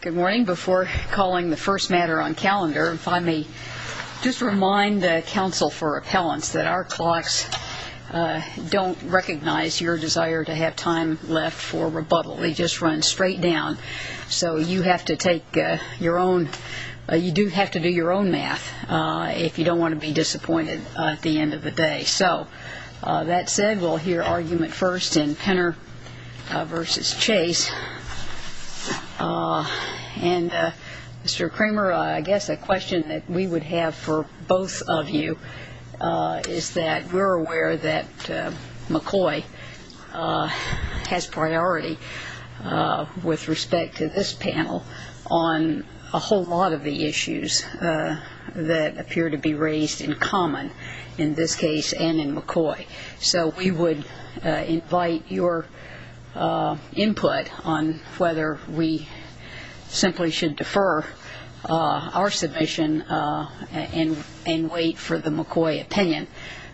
Good morning. Before calling the first matter on calendar, if I may, just remind the Council for Appellants that our clocks don't recognize your desire to have time left for rebuttal. They just run straight down. So you have to take your own, you do have to do your own math if you don't want to be disappointed at the end of the day. And Mr. Kramer, I guess a question that we would have for both of you is that we're aware that McCoy has priority with respect to this panel on a whole lot of the issues that appear to be raised in common in this case and in McCoy. So we would invite your input on whether we simply should defer our submission and wait for the McCoy opinion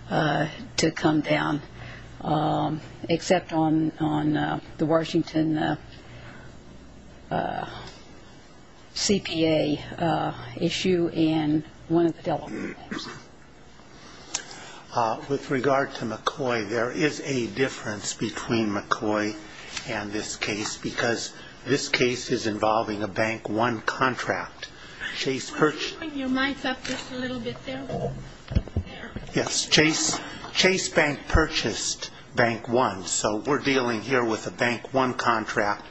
to come down, except on the Washington CPA issue and one of the Delaware names. With regard to McCoy, there is a difference between McCoy and this case because this case is involving a Bank One contract. Chase purchased Bank One, so we're dealing here with a Bank One contract.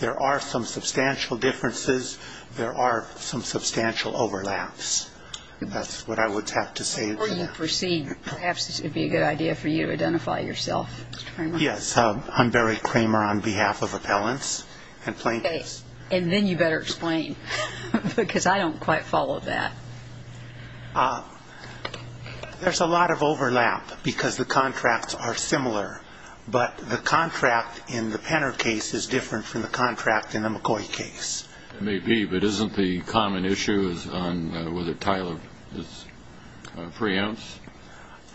There are some substantial differences. There are some substantial overlaps. That's what I would have to say. Before you proceed, perhaps it would be a good idea for you to identify yourself, Mr. Kramer. Yes. I'm Barry Kramer on behalf of Appellants and Plaintiffs. And then you better explain because I don't quite follow that. There's a lot of overlap because the contracts are similar. But the contract in the Penner case is different from the contract in the McCoy case. It may be, but isn't the common issue on whether Tyler is free ounce?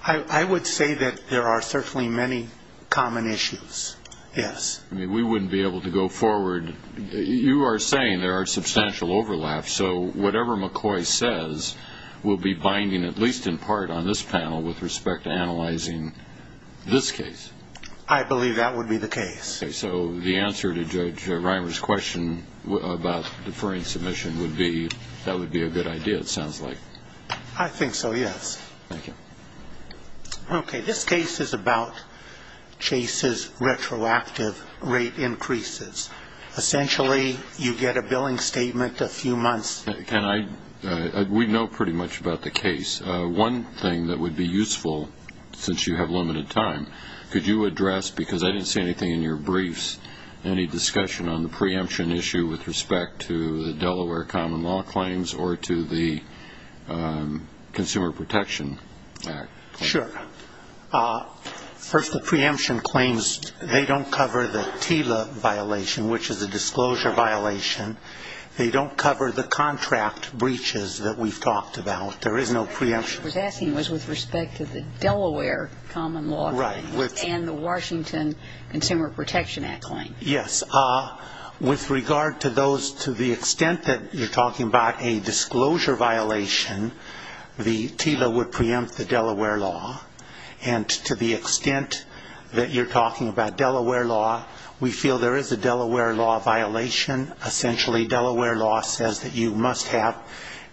I would say that there are certainly many common issues, yes. We wouldn't be able to go forward. You are saying there are substantial overlaps. So whatever McCoy says will be binding, at least in part, on this panel with respect to analyzing this case. I believe that would be the case. So the answer to Judge Reimer's question about deferring submission would be that would be a good idea, it sounds like. I think so, yes. Thank you. Okay. This case is about Chase's retroactive rate increases. Essentially, you get a billing statement a few months. We know pretty much about the case. One thing that would be useful, since you have limited time, could you address, because I didn't see anything in your briefs, any discussion on the preemption issue with respect to the Delaware common law claims or to the Consumer Protection Act? Sure. First, the preemption claims, they don't cover the TILA violation, which is a disclosure violation. They don't cover the contract breaches that we've talked about. There is no preemption. What I was asking was with respect to the Delaware common law claims and the Washington Consumer Protection Act claim. Yes. With regard to those, to the extent that you're talking about a disclosure violation, the TILA would preempt the Delaware law. And to the extent that you're talking about Delaware law, we feel there is a Delaware law violation. Essentially, Delaware law says that you must have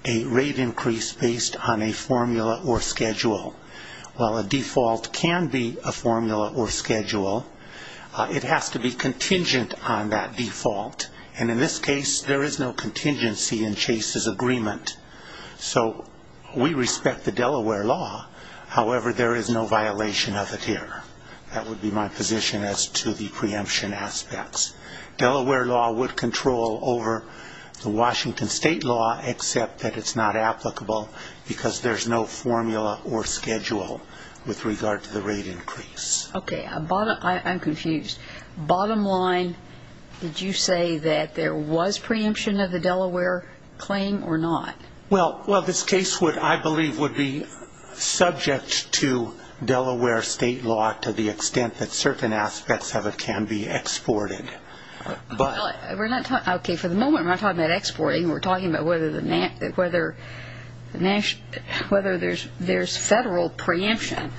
a rate increase based on a formula or schedule. While a default can be a formula or schedule, it has to be contingent on that default. And in this case, there is no contingency in Chase's agreement. So we respect the Delaware law. However, there is no violation of it here. That would be my position as to the preemption aspects. Delaware law would control over the Washington state law, except that it's not applicable because there's no formula or schedule with regard to the rate increase. Okay. I'm confused. Bottom line, did you say that there was preemption of the Delaware claim or not? Well, this case, I believe, would be subject to Delaware state law to the extent that certain aspects of it can be exported. Okay. For the moment, we're not talking about exporting. We're talking about whether there's federal preemption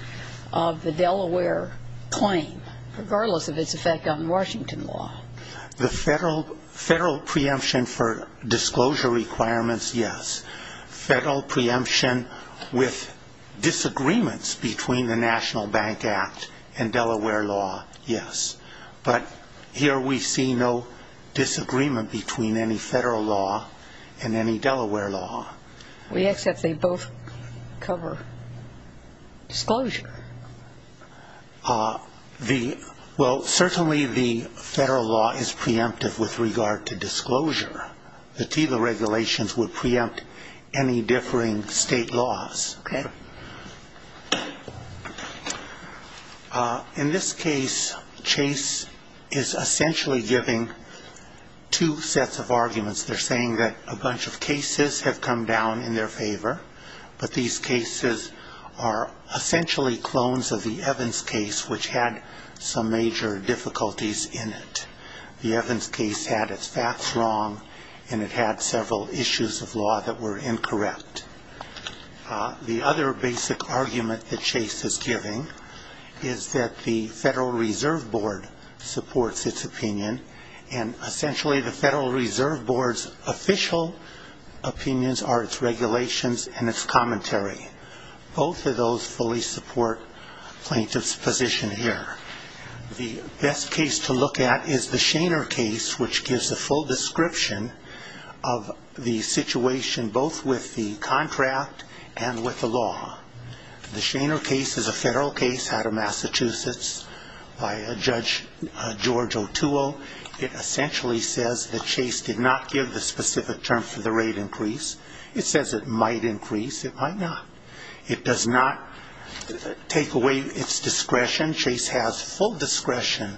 of the Delaware claim, regardless of its effect on Washington law. The federal preemption for disclosure requirements, yes. Federal preemption with disagreements between the National Bank Act and Delaware law, yes. But here we see no disagreement between any federal law and any Delaware law. We accept they both cover disclosure. Well, certainly the federal law is preemptive with regard to disclosure. The TILA regulations would preempt any differing state laws. Okay. In this case, Chase is essentially giving two sets of arguments. They're saying that a bunch of cases have come down in their favor, but these cases are essentially clones of the Evans case, which had some major difficulties in it. The Evans case had its facts wrong, and it had several issues of law that were incorrect. The other basic argument that Chase is giving is that the Federal Reserve Board supports its opinion, and essentially the Federal Reserve Board's official opinions are its regulations and its commentary. Both of those fully support plaintiff's position here. The best case to look at is the Shainer case, which gives a full description of the situation both with the contract and with the law. The Shainer case is a federal case out of Massachusetts by Judge George Otuo. It essentially says that Chase did not give the specific term for the rate increase. It says it might increase. It might not. It does not take away its discretion. Chase has full discretion.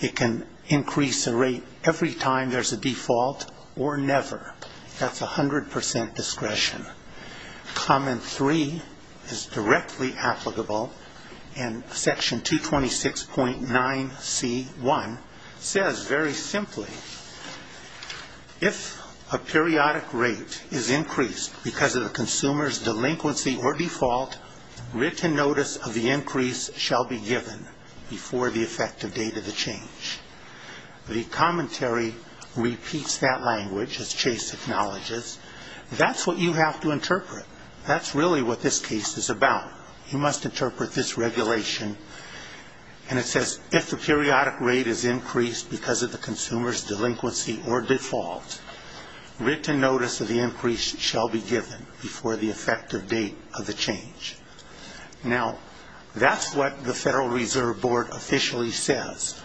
It can increase the rate every time there's a default or never. That's 100 percent discretion. Comment three is directly applicable, and section 226.9c1 says very simply, if a periodic rate is increased because of the consumer's delinquency or default, written notice of the increase shall be given before the effective date of the change. The commentary repeats that language, as Chase acknowledges. That's what you have to interpret. That's really what this case is about. You must interpret this regulation, and it says if the periodic rate is increased because of the consumer's delinquency or default, written notice of the increase shall be given before the effective date of the change. Now, that's what the Federal Reserve Board officially says.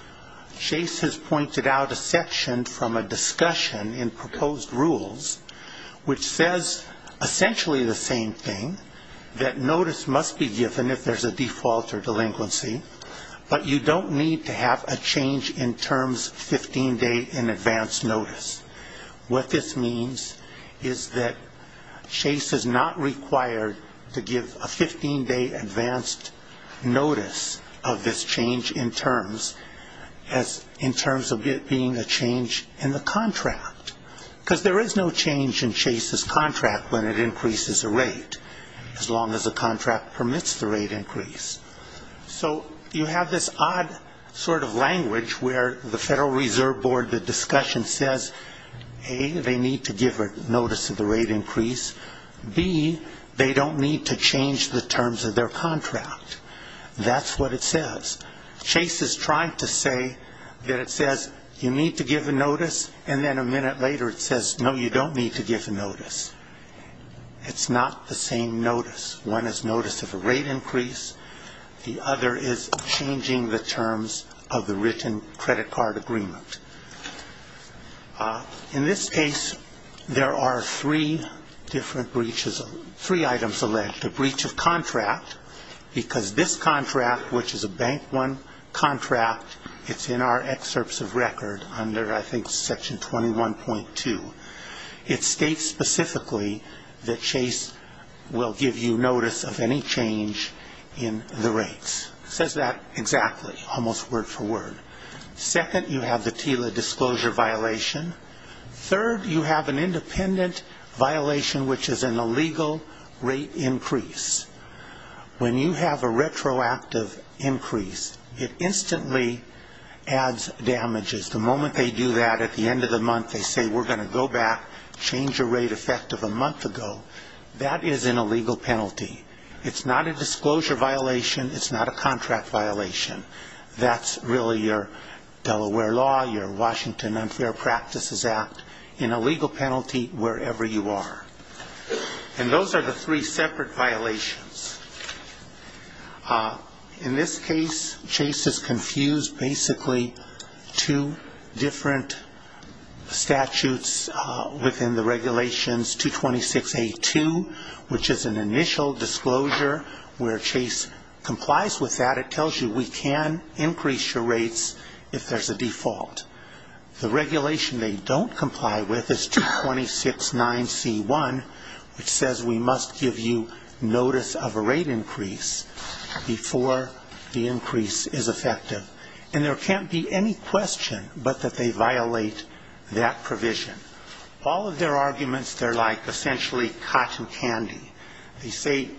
Chase has pointed out a section from a discussion in proposed rules which says essentially the same thing, that notice must be given if there's a default or delinquency, but you don't need to have a change in terms 15-day in advance notice. What this means is that Chase is not required to give a 15-day advance notice of this change in terms of it being a change in the contract, because there is no change in Chase's contract when it increases a rate, as long as the contract permits the rate increase. So you have this odd sort of language where the Federal Reserve Board, the discussion says, A, they need to give a notice of the rate increase. B, they don't need to change the terms of their contract. That's what it says. Chase is trying to say that it says you need to give a notice, and then a minute later it says, no, you don't need to give a notice. It's not the same notice. One is notice of a rate increase. The other is changing the terms of the written credit card agreement. In this case, there are three different breaches, three items alleged, a breach of contract, because this contract, which is a Bank One contract, it's in our excerpts of record under, I think, section 21.2. It states specifically that Chase will give you notice of any change in the rates. It says that exactly, almost word for word. Second, you have the TILA disclosure violation. Third, you have an independent violation, which is an illegal rate increase. When you have a retroactive increase, it instantly adds damages. The moment they do that at the end of the month, they say, we're going to go back, change the rate effective a month ago. That is an illegal penalty. It's not a disclosure violation. It's not a contract violation. That's really your Delaware law, your Washington Unfair Practices Act, an illegal penalty wherever you are. And those are the three separate violations. In this case, Chase has confused basically two different statutes within the regulations 226A2, which is an initial disclosure where Chase complies with that. It tells you we can increase your rates if there's a default. The regulation they don't comply with is 2269C1, which says we must give you notice of a rate increase before the increase is effective. And there can't be any question but that they violate that provision. All of their arguments, they're like essentially cotton candy. They say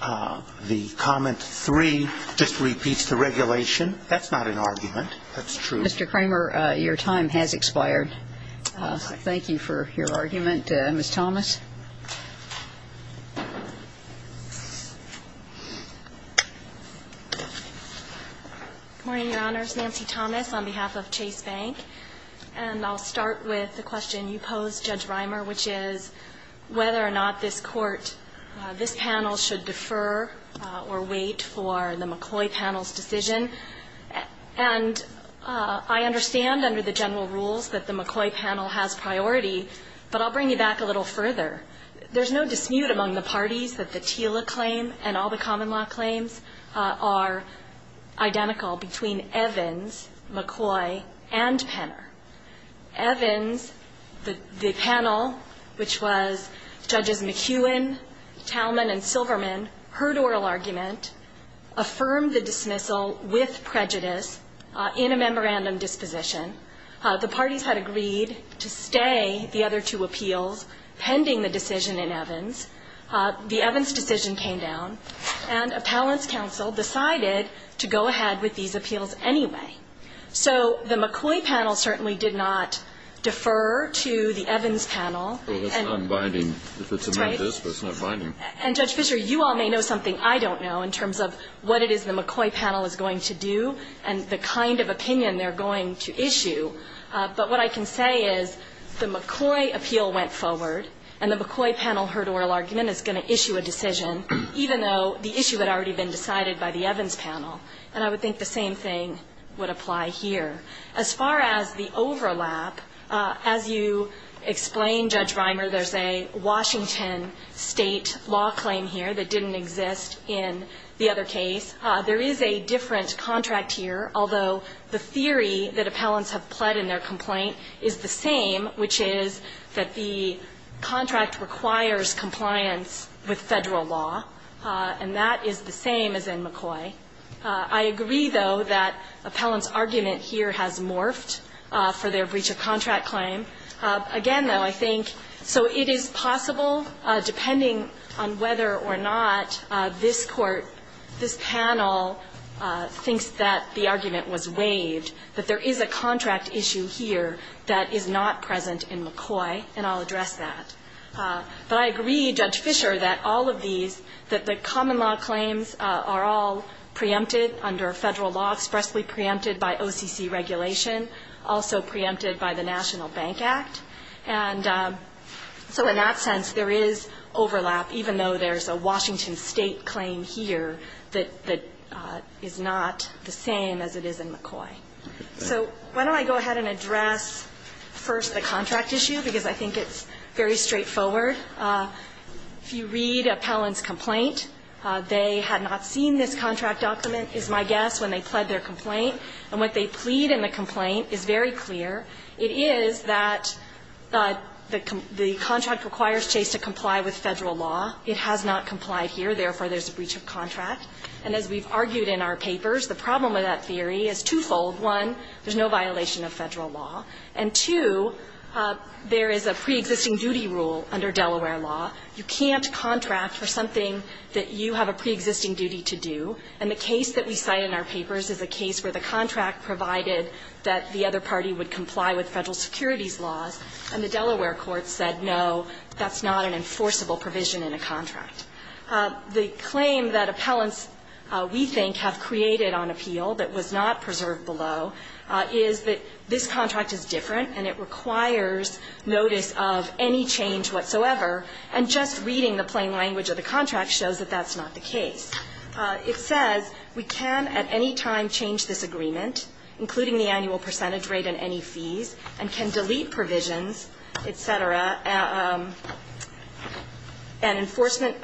the comment 3 just repeats the regulation. That's not an argument. That's true. Mr. Kramer, your time has expired. Thank you for your argument. Ms. Thomas. Good morning, Your Honors. Nancy Thomas on behalf of Chase Bank. And I'll start with the question you posed, Judge Rimer, which is whether or not this Court, this general rules that the McCoy panel has priority, but I'll bring you back a little further. There's no dismute among the parties that the TILA claim and all the common law claims are identical between Evans, McCoy, and Penner. Evans, the panel, which was Judges McEwen, Talman, and Silverman, heard oral argument, affirmed the dismissal with prejudice in a memorandum disposition. The parties had agreed to stay the other two appeals pending the decision in Evans. The Evans decision came down, and appellants counsel decided to go ahead with these appeals anyway. So the McCoy panel certainly did not defer to the Evans panel. Well, that's not binding. That's right. If it's a memo disposition, it's not binding. And, Judge Fischer, you all may know something I don't know in terms of what it is the McCoy panel is going to do and the kind of opinion they're going to issue. But what I can say is the McCoy appeal went forward, and the McCoy panel heard oral argument, is going to issue a decision, even though the issue had already been decided by the Evans panel. And I would think the same thing would apply here. As far as the overlap, as you explained, Judge Rimer, there's a Washington State law claim here that didn't exist in the other case. There is a different contract here, although the theory that appellants have pled in their complaint is the same, which is that the contract requires compliance with Federal law. And that is the same as in McCoy. I agree, though, that appellants' argument here has morphed for their breach of contract claim. Again, though, I think so it is possible, depending on whether or not this Court, this panel, thinks that the argument was waived, that there is a contract issue here that is not present in McCoy, and I'll address that. But I agree, Judge Fischer, that all of these, that the common law claims are all preempted under Federal law, expressly preempted by OCC regulation, also preempted by the national bank act. And so in that sense, there is overlap, even though there's a Washington State claim here that is not the same as it is in McCoy. So why don't I go ahead and address first the contract issue, because I think it's very straightforward. If you read appellant's complaint, they had not seen this contract document, is my guess, when they pled their complaint. And what they plead in the complaint is very clear. It is that the contract requires Chase to comply with Federal law. It has not complied here. Therefore, there's a breach of contract. And as we've argued in our papers, the problem with that theory is twofold. One, there's no violation of Federal law. And two, there is a preexisting duty rule under Delaware law. You can't contract for something that you have a preexisting duty to do. And the case that we cite in our papers is a case where the contract provided that the other party would comply with Federal securities laws, and the Delaware court said, no, that's not an enforceable provision in a contract. The claim that appellants, we think, have created on appeal that was not preserved below is that this contract is different, and it requires notice of any change whatsoever, and just reading the plain language of the contract shows that that's not the case. It says we can at any time change this agreement, including the annual percentage rate and any fees, and can delete provisions, et cetera, and enforcement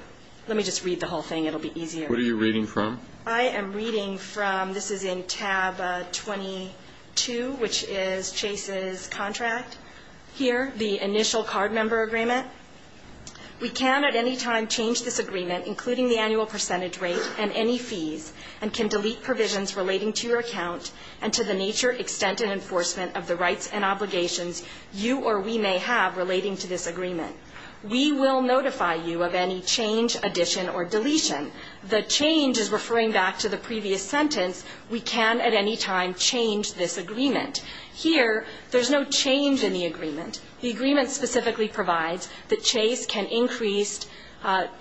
Let me just read the whole thing. It will be easier. What are you reading from? I am reading from, this is in tab 22, which is Chase's contract here, the initial card member agreement. We can at any time change this agreement, including the annual percentage rate and any fees, and can delete provisions relating to your account and to the nature, extent, and enforcement of the rights and obligations you or we may have relating to this agreement. We will notify you of any change, addition, or deletion. The change is referring back to the previous sentence. We can at any time change this agreement. Here, there's no change in the agreement. The agreement specifically provides that Chase can increase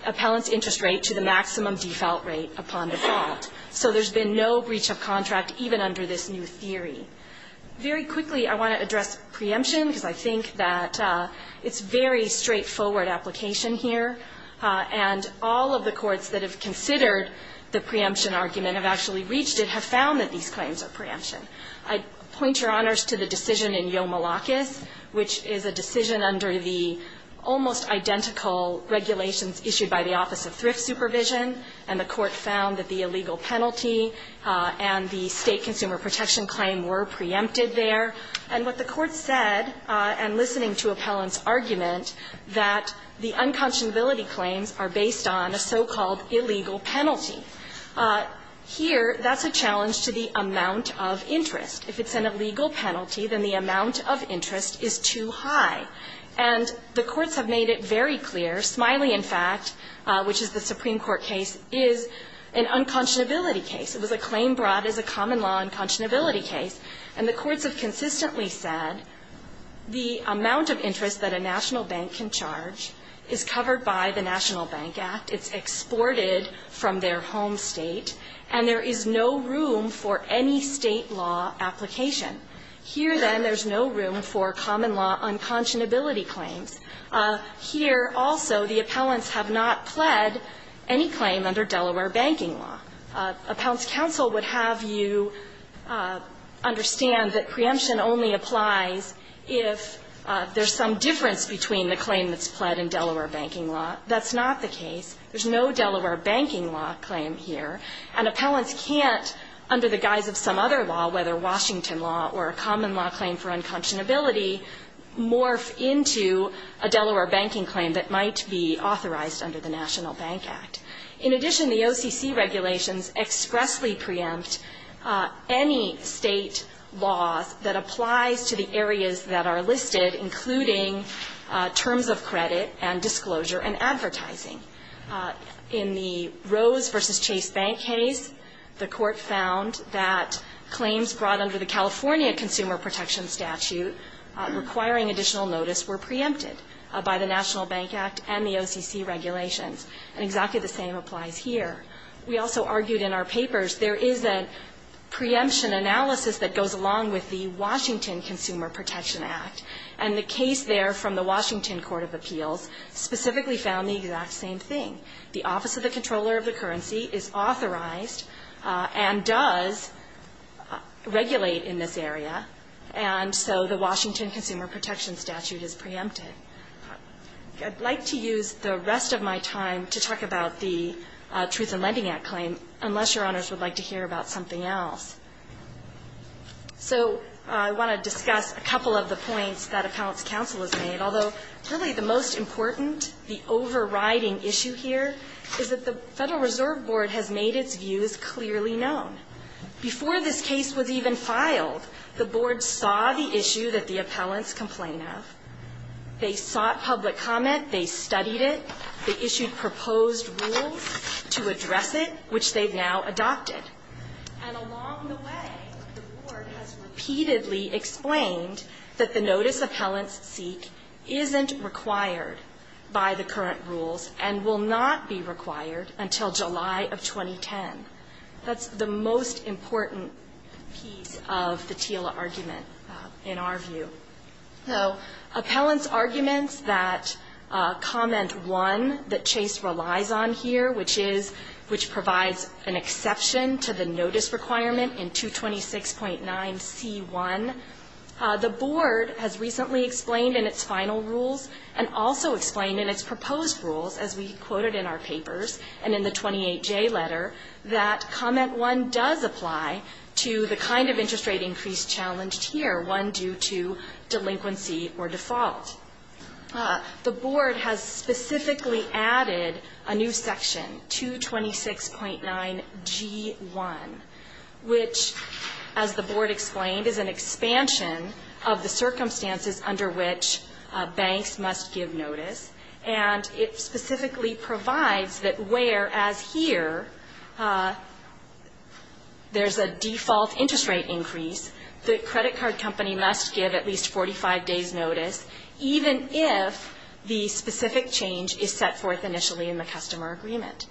appellant's interest rate to the maximum default rate upon default. So there's been no breach of contract even under this new theory. Very quickly, I want to address preemption, because I think that it's very straightforward application here, and all of the courts that have considered the preemption argument have actually reached it, have found that these claims are preemption. I point Your Honors to the decision in Yomalacas, which is a decision under the almost identical regulations issued by the Office of Thrift Supervision, and the court found that the illegal penalty and the State consumer protection claim were preempted And what the court said, and listening to appellant's argument, that the unconscionability claims are based on a so-called illegal penalty. Here, that's a challenge to the amount of interest. If it's an illegal penalty, then the amount of interest is too high. And the courts have made it very clear. Smiley, in fact, which is the Supreme Court case, is an unconscionability case. It was a claim brought as a common law unconscionability case. And the courts have consistently said the amount of interest that a national bank can charge is covered by the National Bank Act, it's exported from their home State, and there is no room for any State law application. Here, then, there's no room for common law unconscionability claims. Here, also, the appellants have not pled any claim under Delaware banking law. Appellant's counsel would have you understand that preemption only applies if there's some difference between the claim that's pled and Delaware banking law. That's not the case. There's no Delaware banking law claim here. And appellants can't, under the guise of some other law, whether Washington law or a common law claim for unconscionability, morph into a Delaware banking claim that might be authorized under the National Bank Act. In addition, the OCC regulations expressly preempt any State law that applies to the areas that are listed, including terms of credit and disclosure and advertising. In the Rose v. Chase Bank case, the Court found that claims brought under the California Consumer Protection Statute requiring additional notice were preempted by the National Bank. And the same applies here. We also argued in our papers there is a preemption analysis that goes along with the Washington Consumer Protection Act. And the case there from the Washington Court of Appeals specifically found the exact same thing. The Office of the Comptroller of the Currency is authorized and does regulate in this area, and so the Washington Consumer Protection Statute is preempted. I'd like to use the rest of my time to talk about the Truth in Lending Act claim, unless Your Honors would like to hear about something else. So I want to discuss a couple of the points that appellants' counsel has made, although really the most important, the overriding issue here is that the Federal Reserve Board has made its views clearly known. Before this case was even filed, the Board saw the issue that the appellants complained of. They sought public comment. They studied it. They issued proposed rules to address it, which they've now adopted. And along the way, the Board has repeatedly explained that the notice appellants seek isn't required by the current rules and will not be required until July of 2010. That's the most important piece of the TILA argument in our view. So appellants' arguments that comment 1 that Chase relies on here, which is, which provides an exception to the notice requirement in 226.9c1, the Board has recently explained in its final rules and also explained in its proposed rules, as we quoted in our papers and in the 28J letter, that comment 1 does apply to the kind of interest rate increase challenged here, one due to delinquency or default. The Board has specifically added a new section, 226.9g1, which, as the Board explained, is an expansion of the circumstances under which banks must give notice, and it specifically provides that where, as here, there's a default interest rate increase, the credit card company must give at least 45 days' notice, even if the specific change is set forth initially in the customer agreement.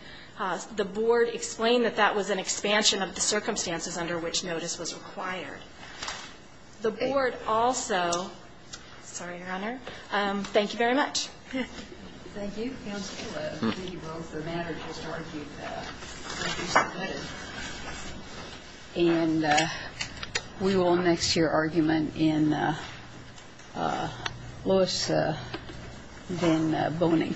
The Board explained that that was an expansion of the circumstances under which notice was required. The Board also ‑‑ sorry, Your Honor. Thank you very much. Thank you, counsel. I think you both, the manner in which you argued, I appreciate that. And we will next hear argument in Lois v. Boehning. Good morning.